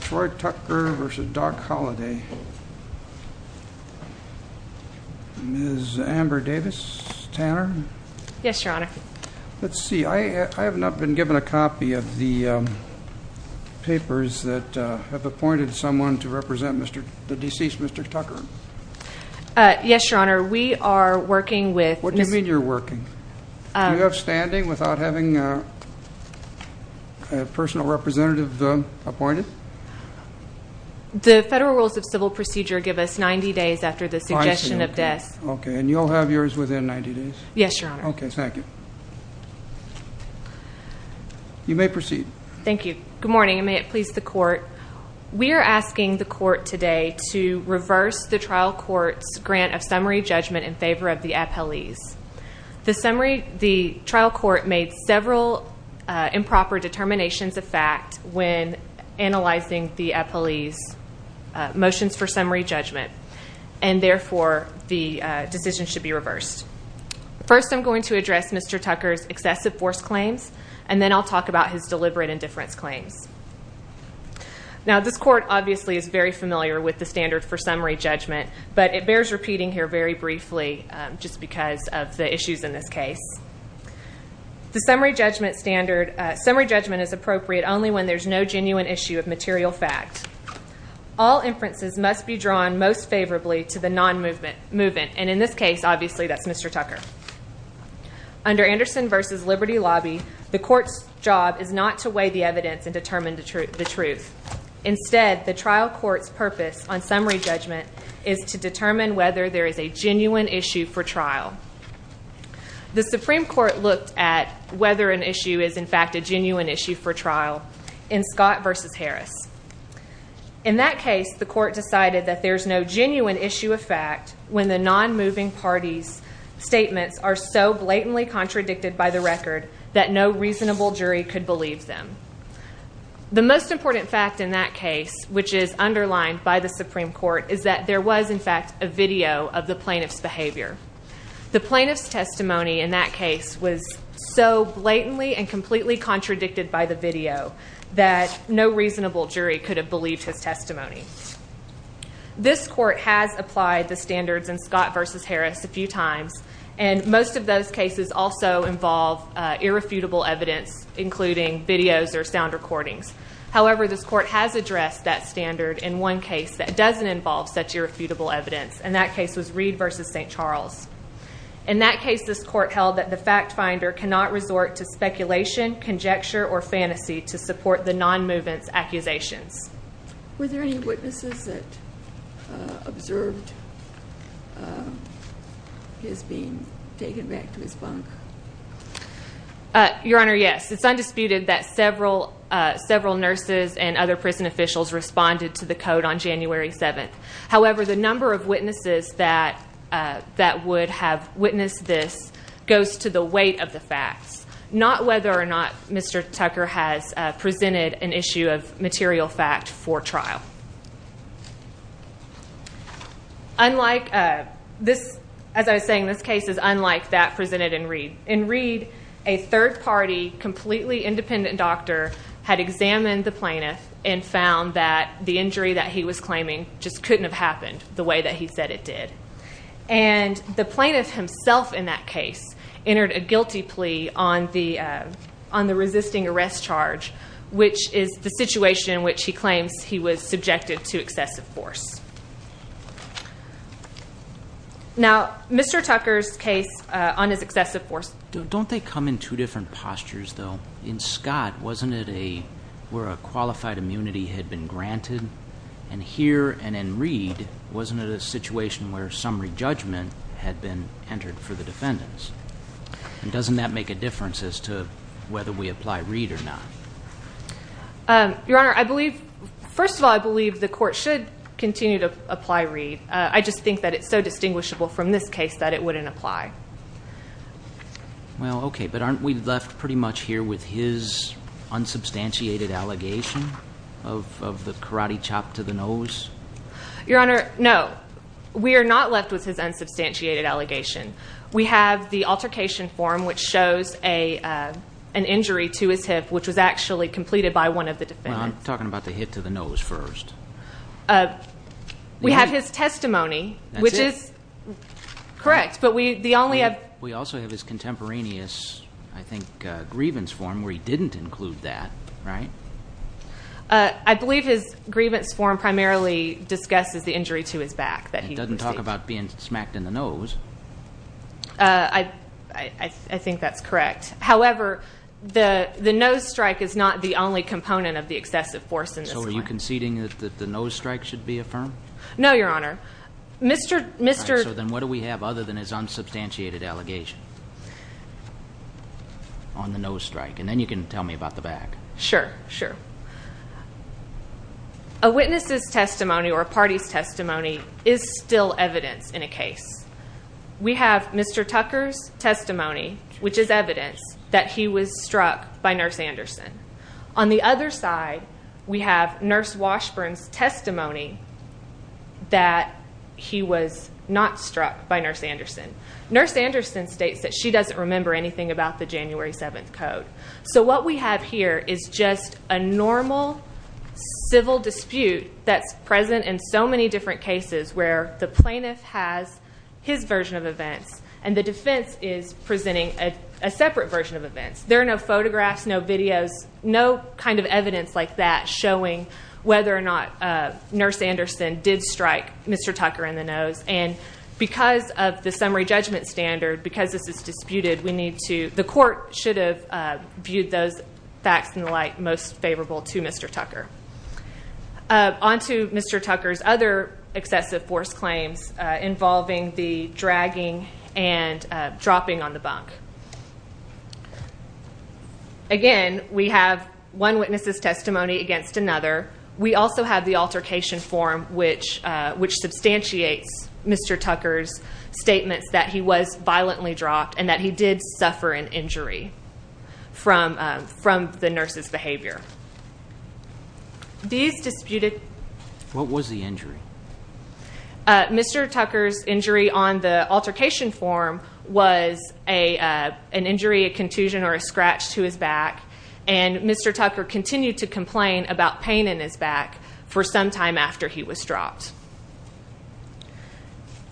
Troy Tucker v. Doc Holladay Ms. Amber Davis? Tanner? Yes, Your Honor. Let's see, I have not been given a copy of the papers that have appointed someone to represent the deceased Mr. Tucker. Yes, Your Honor. We are working with... What do you mean you're working? Do you have standing without having a personal representative appointed? The federal rules of civil procedure give us 90 days after the suggestion of death. Okay, and you'll have yours within 90 days? Yes, Your Honor. Okay, thank you. You may proceed. Thank you. Good morning, and may it please the court. We are asking the court today to reverse the trial court's grant of summary judgment in favor of the appellees. The trial court made several improper determinations of fact when analyzing the appellee's motions for summary judgment, and therefore the decision should be reversed. First, I'm going to address Mr. Tucker's excessive force claims, and then I'll talk about his deliberate indifference claims. Now, this court obviously is very familiar with the standard for summary judgment, but it bears repeating here very briefly just because of the issues in this case. The summary judgment standard... Summary judgment is appropriate only when there's no genuine issue of material fact. All inferences must be drawn most favorably to the non-movement, and in this case, obviously, that's Mr. Tucker. Under Anderson v. Liberty Lobby, the court's job is not to weigh the evidence and determine the truth. Instead, the trial court's purpose on summary judgment is to determine whether there is a genuine issue for trial. The Supreme Court looked at whether an issue is, in fact, a genuine issue for trial in Scott v. Harris. In that case, the court decided that there's no genuine issue of fact when the non-moving party's statements are so blatantly contradicted by the record that no reasonable jury could believe them. The most important fact in that case, which is underlined by the Supreme Court, is that there was, in fact, a video of the plaintiff's behavior. The plaintiff's testimony in that case was so blatantly and completely contradicted by the video that no reasonable jury could have believed his testimony. This court has applied the standards in Scott v. Harris a few times, and most of those cases also involve irrefutable evidence, including videos or sound recordings. However, this court has addressed that standard in one case that doesn't involve such irrefutable evidence, and that case was Reed v. St. Charles. In that case, this court held that the fact finder cannot resort to speculation, conjecture, Were there any witnesses that observed his being taken back to his bunk? Your Honor, yes. It's undisputed that several nurses and other prison officials responded to the code on January 7th. However, the number of witnesses that would have witnessed this goes to the weight of the facts, not whether or not Mr. Tucker has presented an issue of material fact for trial. As I was saying, this case is unlike that presented in Reed. In Reed, a third-party, completely independent doctor had examined the plaintiff and found that the injury that he was claiming just couldn't have happened the way that he said it did. And the plaintiff himself in that case entered a guilty plea on the resisting arrest charge, which is the situation in which he claims he was subjected to excessive force. Now, Mr. Tucker's case on his excessive force Don't they come in two different postures, though? In Scott, wasn't it where a qualified immunity had been granted? And here and in Reed, wasn't it a situation where summary judgment had been entered for the defendants? And doesn't that make a difference as to whether we apply Reed or not? Your Honor, first of all, I believe the court should continue to apply Reed. I just think that it's so distinguishable from this case that it wouldn't apply. Well, okay, but aren't we left pretty much here with his unsubstantiated allegation of the karate chop to the nose? Your Honor, no. We are not left with his unsubstantiated allegation. We have the altercation form, which shows an injury to his hip, which was actually completed by one of the defendants. Well, I'm talking about the hit to the nose first. We have his testimony, which is correct. We also have his contemporaneous, I think, grievance form where he didn't include that, right? I believe his grievance form primarily discusses the injury to his back that he received. It doesn't talk about being smacked in the nose. I think that's correct. However, the nose strike is not the only component of the excessive force in this case. So are you conceding that the nose strike should be affirmed? No, Your Honor. All right, so then what do we have other than his unsubstantiated allegation on the nose strike? And then you can tell me about the back. Sure, sure. A witness's testimony or a party's testimony is still evidence in a case. We have Mr. Tucker's testimony, which is evidence that he was struck by Nurse Anderson. On the other side, we have Nurse Washburn's testimony that he was not struck by Nurse Anderson. Nurse Anderson states that she doesn't remember anything about the January 7th Code. So what we have here is just a normal civil dispute that's present in so many different cases where the plaintiff has his version of events and the defense is presenting a separate version of events. There are no photographs, no videos, no kind of evidence like that showing whether or not Nurse Anderson did strike Mr. Tucker in the nose. And because of the summary judgment standard, because this is disputed, the court should have viewed those facts and the like most favorable to Mr. Tucker. On to Mr. Tucker's other excessive force claims involving the dragging and dropping on the bunk. Again, we have one witness's testimony against another. We also have the altercation form, which substantiates Mr. Tucker's statements that he was violently dropped and that he did suffer an injury from the nurse's behavior. These disputed- What was the injury? Mr. Tucker's injury on the altercation form was an injury, a contusion, or a scratch to his back, and Mr. Tucker continued to complain about pain in his back for some time after he was dropped.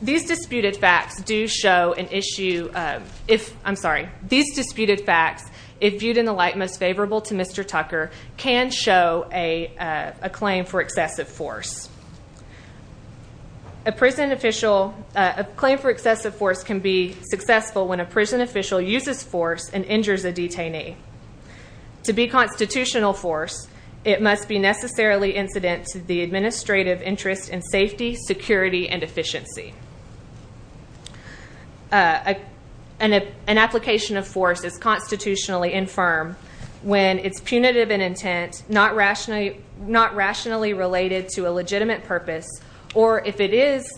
These disputed facts do show an issue- I'm sorry. These disputed facts, if viewed in the like most favorable to Mr. Tucker, can show a claim for excessive force. A prison official- A claim for excessive force can be successful when a prison official uses force and injures a detainee. To be constitutional force, it must be necessarily incident to the administrative interest in safety, security, and efficiency. An application of force is constitutionally infirm when it's punitive in intent, not rationally related to a legitimate purpose, or if it is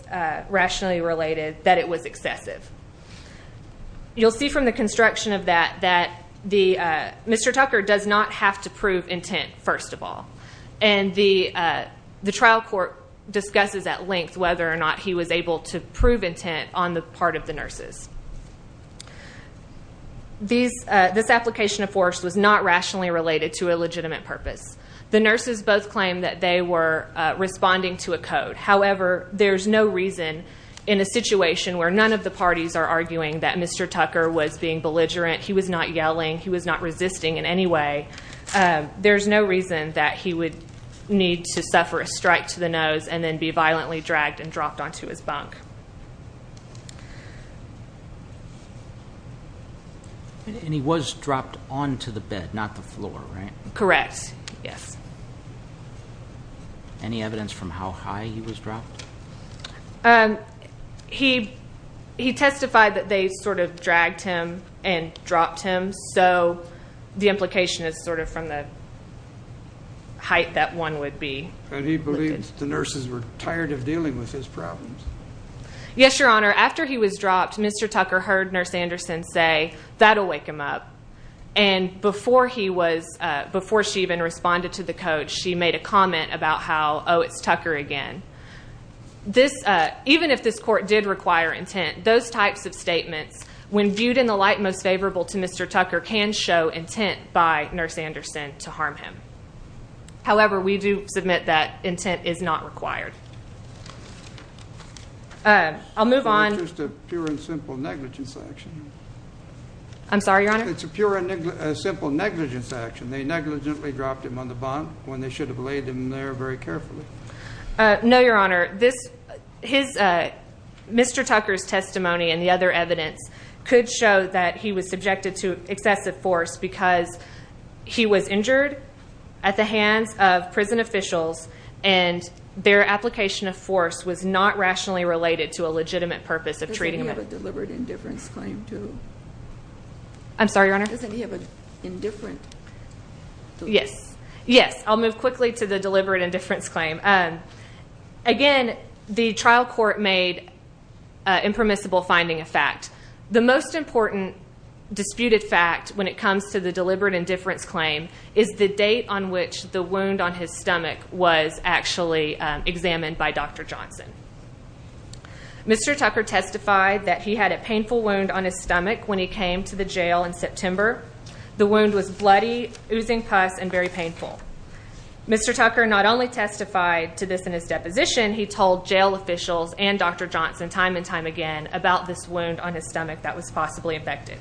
rationally related, that it was excessive. You'll see from the construction of that that Mr. Tucker does not have to prove intent, first of all, and the trial court discusses at length whether or not he was able to prove intent on the part of the nurses. This application of force was not rationally related to a legitimate purpose. The nurses both claimed that they were responding to a code. However, there's no reason in a situation where none of the parties are arguing that Mr. Tucker was being belligerent, he was not yelling, he was not resisting in any way, there's no reason that he would need to suffer a strike to the nose and then be violently dragged and dropped onto his bunk. And he was dropped onto the bed, not the floor, right? Correct, yes. Any evidence from how high he was dropped? He testified that they sort of dragged him and dropped him, so the implication is sort of from the height that one would be. And he believes the nurses were tired of dealing with his problems. Yes, Your Honor. After he was dropped, Mr. Tucker heard Nurse Anderson say, And before she even responded to the code, she made a comment about how, oh, it's Tucker again. Even if this court did require intent, those types of statements, when viewed in the light most favorable to Mr. Tucker, can show intent by Nurse Anderson to harm him. However, we do submit that intent is not required. I'll move on. It's just a pure and simple negligence action. I'm sorry, Your Honor? It's a pure and simple negligence action. They negligently dropped him on the bunk when they should have laid him there very carefully. No, Your Honor. Mr. Tucker's testimony and the other evidence could show that he was subjected to excessive force because he was injured at the hands of prison officials and their application of force was not rationally related to a legitimate purpose of treating him. Doesn't he have a deliberate indifference claim, too? I'm sorry, Your Honor? Doesn't he have an indifferent? Yes. Yes, I'll move quickly to the deliberate indifference claim. Again, the trial court made impermissible finding a fact. The most important disputed fact when it comes to the deliberate indifference claim is the date on which the wound on his stomach was actually examined by Dr. Johnson. Mr. Tucker testified that he had a painful wound on his stomach when he came to the jail in September. The wound was bloody, oozing pus, and very painful. Mr. Tucker not only testified to this in his deposition, he told jail officials and Dr. Johnson time and time again about this wound on his stomach that was possibly infected.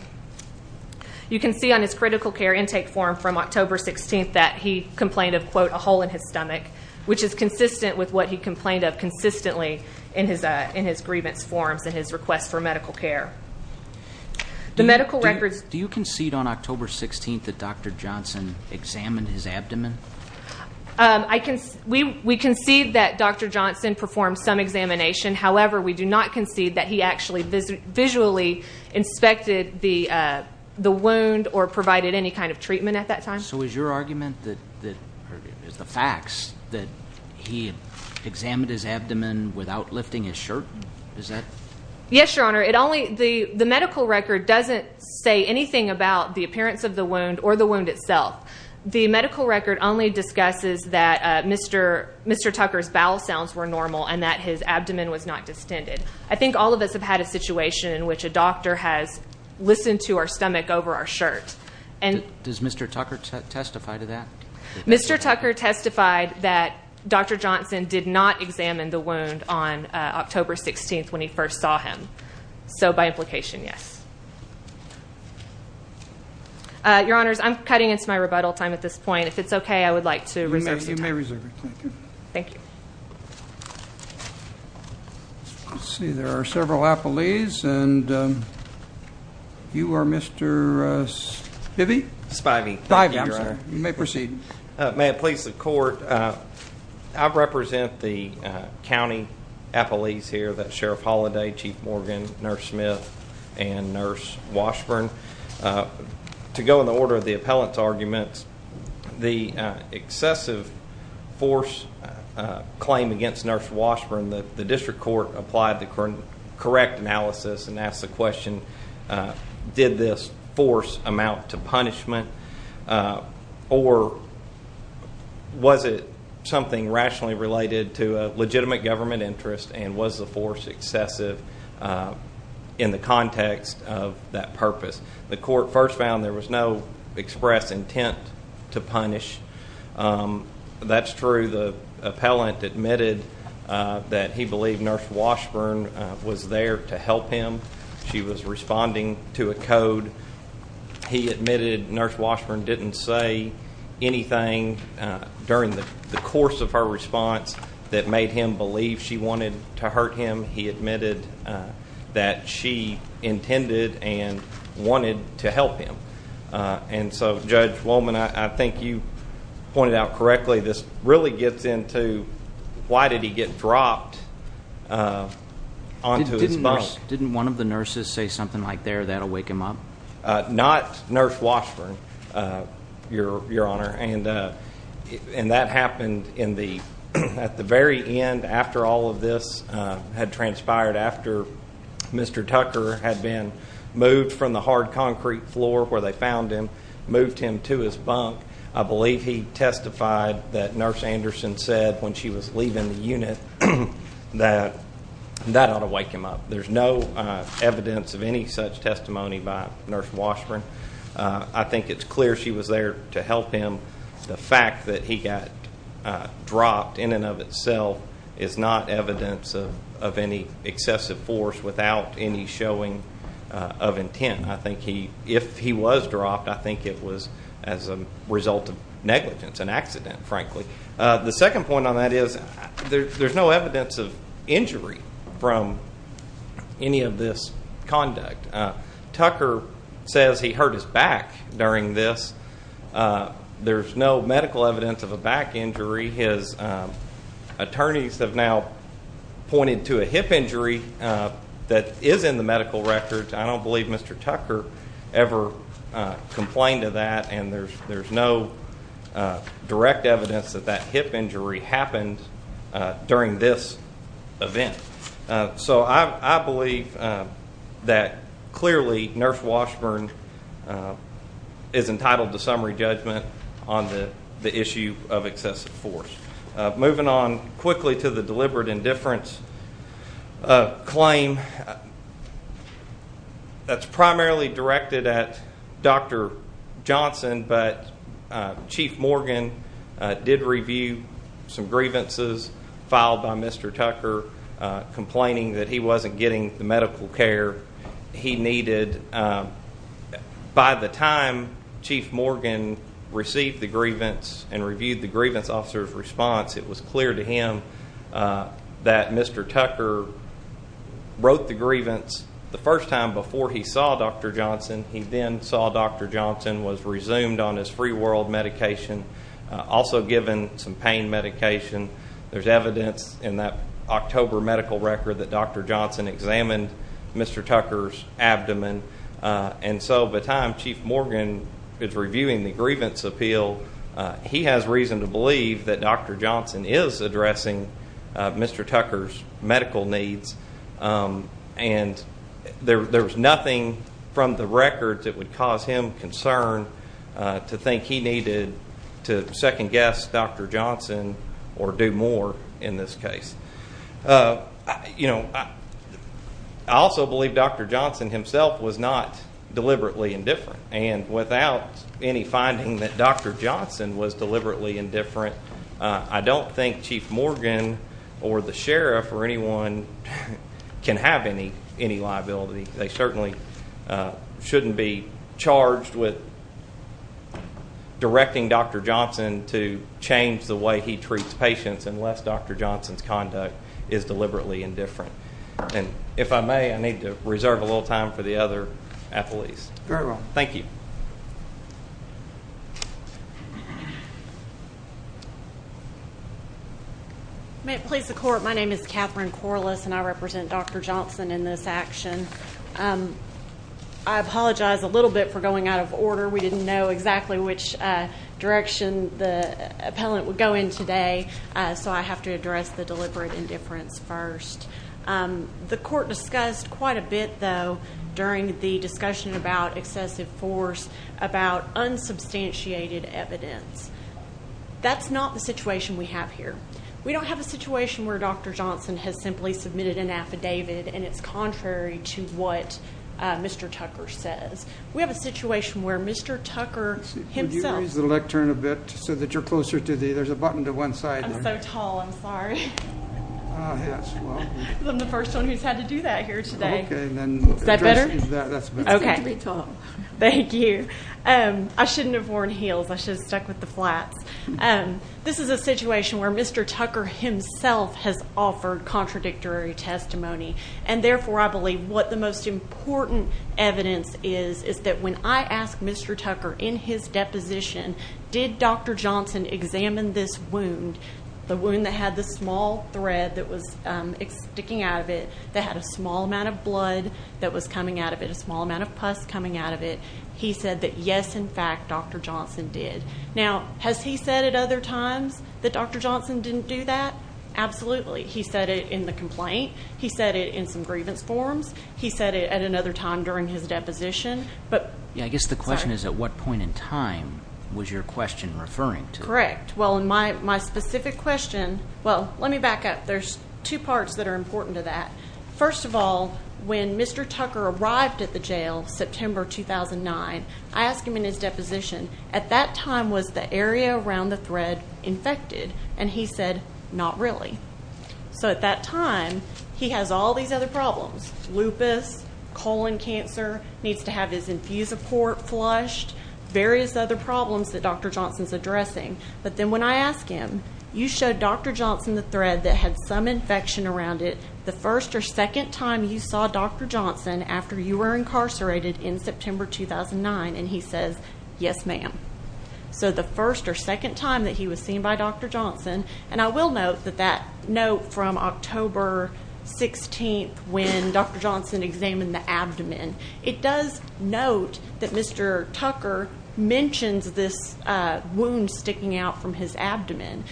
You can see on his critical care intake form from October 16th that he complained of, quote, a hole in his stomach, which is consistent with what he complained of consistently in his grievance forms in his request for medical care. Do you concede on October 16th that Dr. Johnson examined his abdomen? We concede that Dr. Johnson performed some examination. However, we do not concede that he actually visually inspected the wound or provided any kind of treatment at that time. So is your argument that the facts that he examined his abdomen without lifting his shirt, is that? Yes, Your Honor. The medical record doesn't say anything about the appearance of the wound or the wound itself. The medical record only discusses that Mr. Tucker's bowel sounds were normal and that his abdomen was not distended. I think all of us have had a situation in which a doctor has listened to our stomach over our shirt. Does Mr. Tucker testify to that? Mr. Tucker testified that Dr. Johnson did not examine the wound on October 16th when he first saw him. So by implication, yes. Your Honors, I'm cutting into my rebuttal time at this point. If it's okay, I would like to reserve some time. You may reserve it. Thank you. Thank you. Let's see. There are several appellees, and you are Mr. Spivey? Spivey. Spivey, Your Honor. You may proceed. May it please the Court, I represent the county appellees here, that's Sheriff Holliday, Chief Morgan, Nurse Smith, and Nurse Washburn. To go in the order of the appellant's arguments, the excessive force claim against Nurse Washburn, the district court applied the correct analysis and asked the question, did this force amount to punishment, or was it something rationally related to a legitimate government interest and was the force excessive in the context of that purpose? The court first found there was no express intent to punish. That's true. The appellant admitted that he believed Nurse Washburn was there to help him. She was responding to a code. He admitted Nurse Washburn didn't say anything during the course of her response that made him believe she wanted to hurt him. He admitted that she intended and wanted to help him. And so, Judge Wollman, I think you pointed out correctly, this really gets into why did he get dropped onto his bunk? Didn't one of the nurses say something like, there, that'll wake him up? Not Nurse Washburn, Your Honor. And that happened at the very end after all of this had transpired, after Mr. Tucker had been moved from the hard concrete floor where they found him, moved him to his bunk. I believe he testified that Nurse Anderson said when she was leaving the unit that that ought to wake him up. There's no evidence of any such testimony by Nurse Washburn. I think it's clear she was there to help him. The fact that he got dropped in and of itself is not evidence of any excessive force without any showing of intent. I think if he was dropped, I think it was as a result of negligence, an accident, frankly. The second point on that is there's no evidence of injury from any of this conduct. Tucker says he hurt his back during this. There's no medical evidence of a back injury. His attorneys have now pointed to a hip injury that is in the medical records. I don't believe Mr. Tucker ever complained of that, and there's no direct evidence that that hip injury happened during this event. So I believe that clearly Nurse Washburn is entitled to summary judgment on the issue of excessive force. Moving on quickly to the deliberate indifference claim that's primarily directed at Dr. Johnson, but Chief Morgan did review some grievances filed by Mr. Tucker, complaining that he wasn't getting the medical care he needed. By the time Chief Morgan received the grievance and reviewed the grievance officer's response, it was clear to him that Mr. Tucker wrote the grievance the first time before he saw Dr. Johnson. He then saw Dr. Johnson was resumed on his free world medication, also given some pain medication. There's evidence in that October medical record that Dr. Johnson examined Mr. Tucker's abdomen. And so by the time Chief Morgan is reviewing the grievance appeal, he has reason to believe that Dr. Johnson is addressing Mr. Tucker's medical needs. And there's nothing from the record that would cause him concern to think he needed to second-guess Dr. Johnson or do more in this case. You know, I also believe Dr. Johnson himself was not deliberately indifferent, and without any finding that Dr. Johnson was deliberately indifferent, I don't think Chief Morgan or the sheriff or anyone can have any liability. They certainly shouldn't be charged with directing Dr. Johnson to change the way he treats patients unless Dr. Johnson's conduct is deliberately indifferent. And if I may, I need to reserve a little time for the other athletes. Very well. Thank you. May it please the Court, my name is Catherine Corliss, and I represent Dr. Johnson in this action. I apologize a little bit for going out of order. We didn't know exactly which direction the appellant would go in today, so I have to address the deliberate indifference first. The Court discussed quite a bit, though, during the discussion about excessive force, about unsubstantiated evidence. That's not the situation we have here. We don't have a situation where Dr. Johnson has simply submitted an affidavit, and it's contrary to what Mr. Tucker says. We have a situation where Mr. Tucker himself – Could you raise the lectern a bit so that you're closer to the – there's a button to one side there. I'm so tall, I'm sorry. I'm the first one who's had to do that here today. Is that better? It's safe to be tall. Thank you. I shouldn't have worn heels. I should have stuck with the flats. This is a situation where Mr. Tucker himself has offered contradictory testimony, and therefore I believe what the most important evidence is is that when I asked Mr. Tucker in his deposition, did Dr. Johnson examine this wound, the wound that had the small thread that was sticking out of it, that had a small amount of blood that was coming out of it, a small amount of pus coming out of it, he said that, yes, in fact, Dr. Johnson did. Now, has he said at other times that Dr. Johnson didn't do that? Absolutely. He said it in the complaint. He said it in some grievance forms. He said it at another time during his deposition. I guess the question is at what point in time was your question referring to? Correct. Well, in my specific question, well, let me back up. There's two parts that are important to that. First of all, when Mr. Tucker arrived at the jail September 2009, I asked him in his deposition, at that time was the area around the thread infected? And he said not really. So at that time, he has all these other problems, lupus, colon cancer, needs to have his infusoport flushed, various other problems that Dr. Johnson's addressing. But then when I asked him, you showed Dr. Johnson the thread that had some infection around it the first or second time you saw Dr. Johnson after you were incarcerated in September 2009, and he says, yes, ma'am. So the first or second time that he was seen by Dr. Johnson, and I will note that that note from October 16th when Dr. Johnson examined the abdomen, it does note that Mr. Tucker mentions this wound sticking out from his abdomen.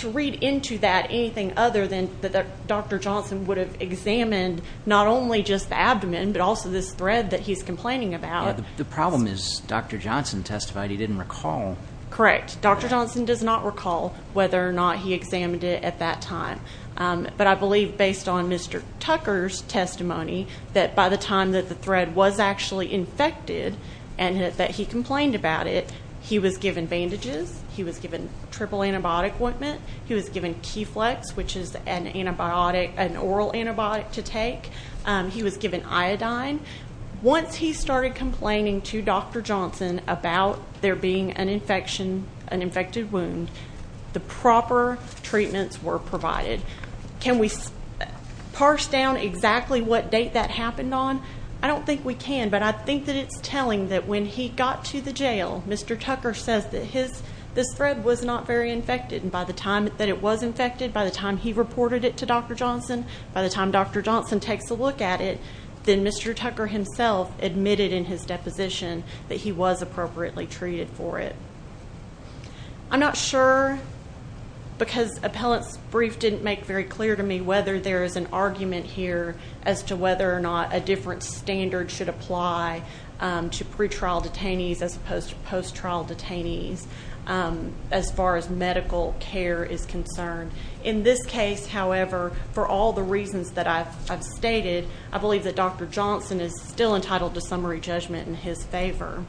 To read into that anything other than that Dr. Johnson would have examined not only just the abdomen but also this thread that he's complaining about. The problem is Dr. Johnson testified he didn't recall. Correct. Dr. Johnson does not recall whether or not he examined it at that time. But I believe based on Mr. Tucker's testimony that by the time that the thread was actually infected and that he complained about it, he was given bandages. He was given triple antibiotic ointment. He was given Keflex, which is an oral antibiotic to take. He was given iodine. Once he started complaining to Dr. Johnson about there being an infection, an infected wound, the proper treatments were provided. Can we parse down exactly what date that happened on? I don't think we can, but I think that it's telling that when he got to the jail, Mr. Tucker says that this thread was not very infected, and by the time that it was infected, by the time he reported it to Dr. Johnson, by the time Dr. Johnson takes a look at it, then Mr. Tucker himself admitted in his deposition that he was appropriately treated for it. I'm not sure because appellant's brief didn't make very clear to me whether there is an argument here as to whether or not a different standard should apply to pretrial detainees as opposed to post-trial detainees as far as medical care is concerned. In this case, however, for all the reasons that I've stated, I believe that Dr. Johnson is still entitled to summary judgment in his favor.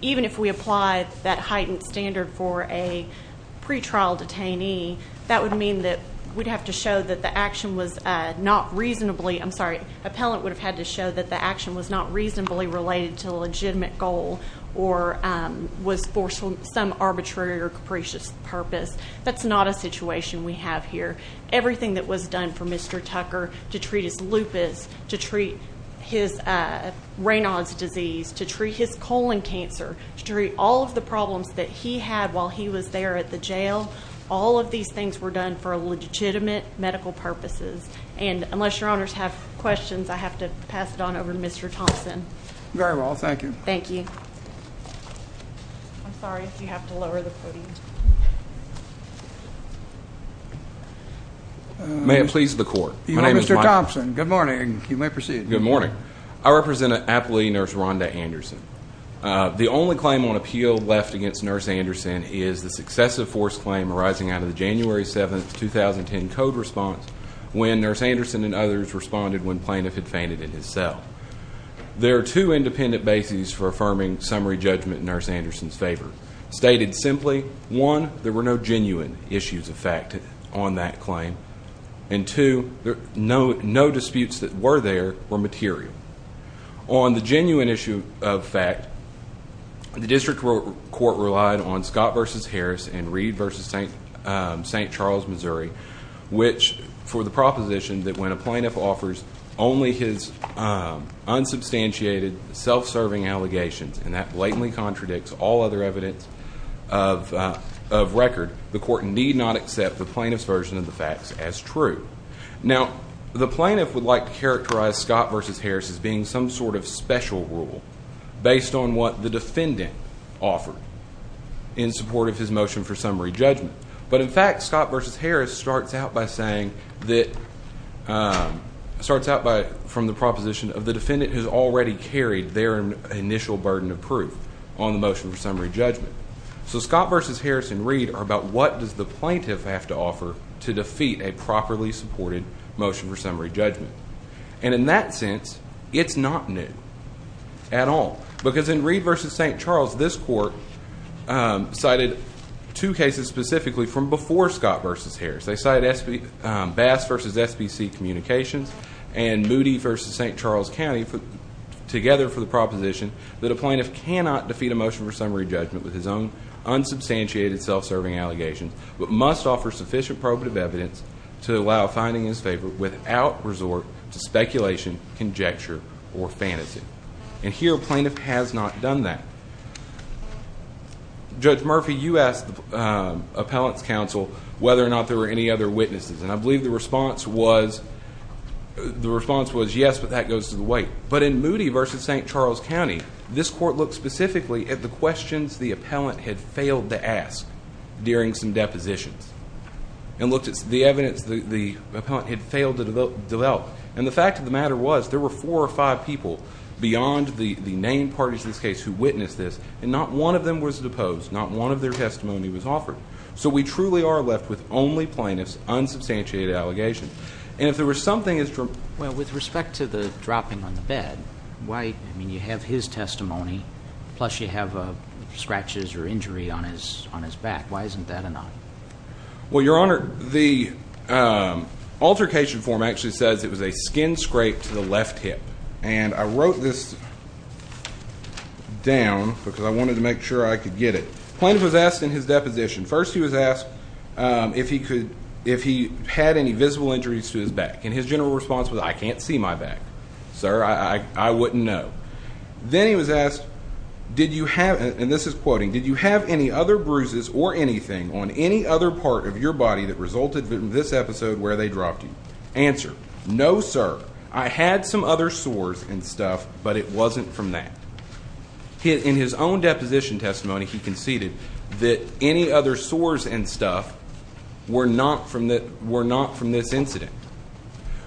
Even if we apply that heightened standard for a pretrial detainee, that would mean that we'd have to show that the action was not reasonably related to a legitimate goal or was for some arbitrary or capricious purpose. That's not a situation we have here. Everything that was done for Mr. Tucker to treat his lupus, to treat his Raynaud's disease, to treat his colon cancer, to treat all of the problems that he had while he was there at the jail, all of these things were done for legitimate medical purposes. And unless your honors have questions, I have to pass it on over to Mr. Thompson. Very well. Thank you. Thank you. I'm sorry if you have to lower the podium. May it please the Court. Good morning, Mr. Thompson. Good morning. You may proceed. Good morning. I represent Appellee Nurse Rhonda Anderson. The only claim on appeal left against Nurse Anderson is the successive forced claim arising out of the January 7, 2010 code response when Nurse Anderson and others responded when plaintiff had fainted in his cell. There are two independent bases for affirming summary judgment in Nurse Anderson's favor. Stated simply, one, there were no genuine issues of fact on that claim, and two, no disputes that were there were material. On the genuine issue of fact, the district court relied on Scott v. Harris and Reed v. St. Charles, Missouri, which for the proposition that when a plaintiff offers only his unsubstantiated, self-serving allegations, and that blatantly contradicts all other evidence of record, the court need not accept the plaintiff's version of the facts as true. Now, the plaintiff would like to characterize Scott v. Harris as being some sort of special rule based on what the defendant offered in support of his motion for summary judgment. But in fact, Scott v. Harris starts out from the proposition of the defendant who's already carried their initial burden of proof on the motion for summary judgment. So Scott v. Harris and Reed are about what does the plaintiff have to offer to defeat a properly supported motion for summary judgment. And in that sense, it's not new at all. Because in Reed v. St. Charles, this court cited two cases specifically from before Scott v. Harris. They cited Bass v. SBC Communications and Moody v. St. Charles County together for the proposition that a plaintiff cannot defeat a motion for summary judgment with his own unsubstantiated, self-serving allegations, but must offer sufficient probative evidence to allow finding his favor without resort to speculation, conjecture, or fantasy. And here, a plaintiff has not done that. Judge Murphy, you asked the Appellant's Counsel whether or not there were any other witnesses. And I believe the response was yes, but that goes to the white. But in Moody v. St. Charles County, this court looked specifically at the questions the appellant had failed to ask during some depositions and looked at the evidence the appellant had failed to develop. And the fact of the matter was, there were four or five people beyond the named parties in this case who witnessed this, and not one of them was deposed, not one of their testimony was offered. So we truly are left with only plaintiffs' unsubstantiated allegations. And if there was something as to— Well, with respect to the dropping on the bed, why—I mean, you have his testimony, plus you have scratches or injury on his back. Why isn't that a no? Well, Your Honor, the altercation form actually says it was a skin scrape to the left hip. And I wrote this down because I wanted to make sure I could get it. The plaintiff was asked in his deposition, first he was asked if he had any visible injuries to his back. And his general response was, I can't see my back, sir, I wouldn't know. Then he was asked, did you have—and this is quoting— did you have any other bruises or anything on any other part of your body that resulted in this episode where they dropped you? Answer, no, sir. I had some other sores and stuff, but it wasn't from that. In his own deposition testimony, he conceded that any other sores and stuff were not from this incident.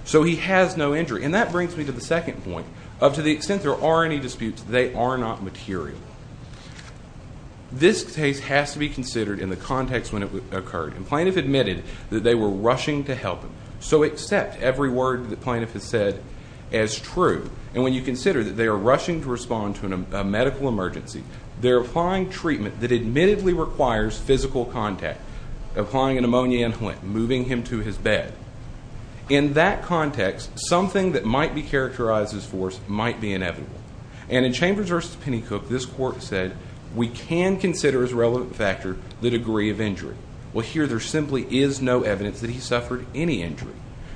So he has no injury. And that brings me to the second point. To the extent there are any disputes, they are not material. This case has to be considered in the context when it occurred. The plaintiff admitted that they were rushing to help him. So accept every word the plaintiff has said as true. And when you consider that they are rushing to respond to a medical emergency, they're applying treatment that admittedly requires physical contact. Applying an ammonia inhalant, moving him to his bed. In that context, something that might be characterized as force might be inevitable. And in Chambers v. Pennycook, this court said we can consider as a relevant factor the degree of injury. Well, here there simply is no evidence that he suffered any injury.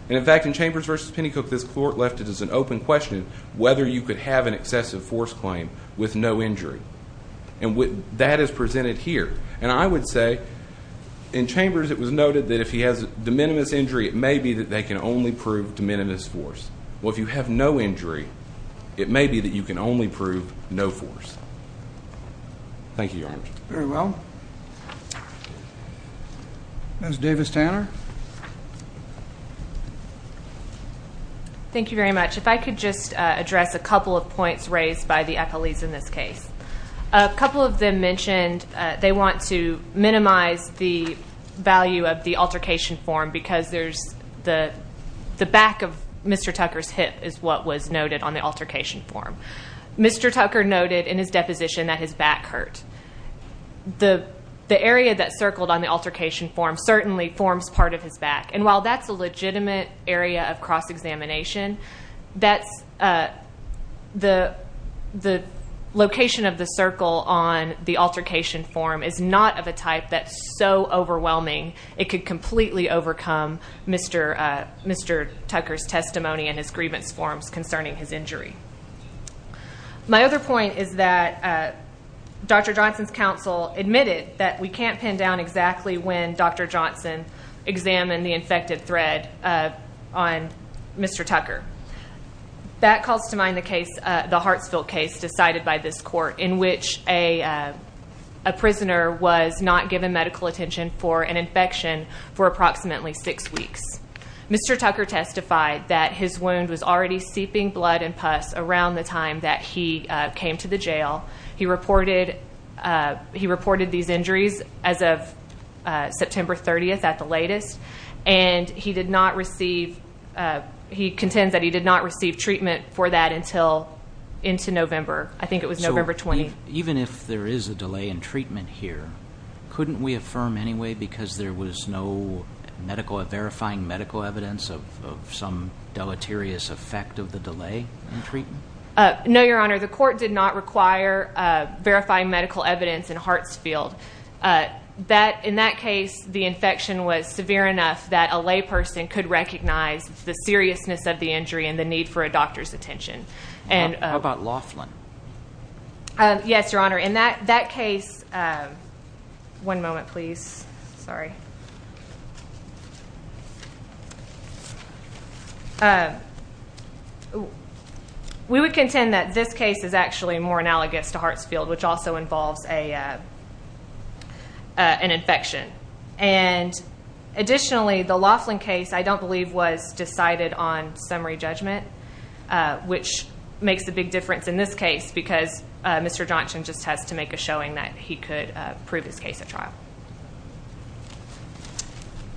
And, in fact, in Chambers v. Pennycook, this court left it as an open question whether you could have an excessive force claim with no injury. And that is presented here. And I would say in Chambers it was noted that if he has de minimis injury, it may be that they can only prove de minimis force. Well, if you have no injury, it may be that you can only prove no force. Thank you, Your Honor. Very well. Ms. Davis Tanner. Thank you very much. If I could just address a couple of points raised by the accolades in this case. A couple of them mentioned they want to minimize the value of the altercation form because there's the back of Mr. Tucker's hip is what was noted on the altercation form. Mr. Tucker noted in his deposition that his back hurt. The area that circled on the altercation form certainly forms part of his back. And while that's a legitimate area of cross-examination, the location of the circle on the altercation form is not of a type that's so overwhelming it could completely overcome Mr. Tucker's testimony in his grievance forms concerning his injury. My other point is that Dr. Johnson's counsel admitted that we can't pin down exactly when Dr. Johnson examined the infected thread on Mr. Tucker. That calls to mind the Hartsville case decided by this court in which a prisoner was not given medical attention for an infection for approximately six weeks. Mr. Tucker testified that his wound was already seeping blood and pus around the time that he came to the jail. He reported these injuries as of September 30th at the latest, and he contends that he did not receive treatment for that until into November. I think it was November 20th. So even if there is a delay in treatment here, couldn't we affirm anyway because there was no verifying medical evidence No, Your Honor. The court did not require verifying medical evidence in Hartsfield. In that case, the infection was severe enough that a lay person could recognize the seriousness of the injury and the need for a doctor's attention. How about Laughlin? Yes, Your Honor. In that case, we would contend that this case is actually more analogous to Hartsfield, which also involves an infection. Additionally, the Laughlin case, I don't believe, was decided on summary judgment, which makes a big difference in this case because Mr. Johnson just has to make a showing that he could prove his case at trial.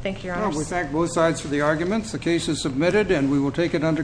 Thank you, Your Honor. We thank both sides for the arguments. The case is submitted, and we will take it under consideration.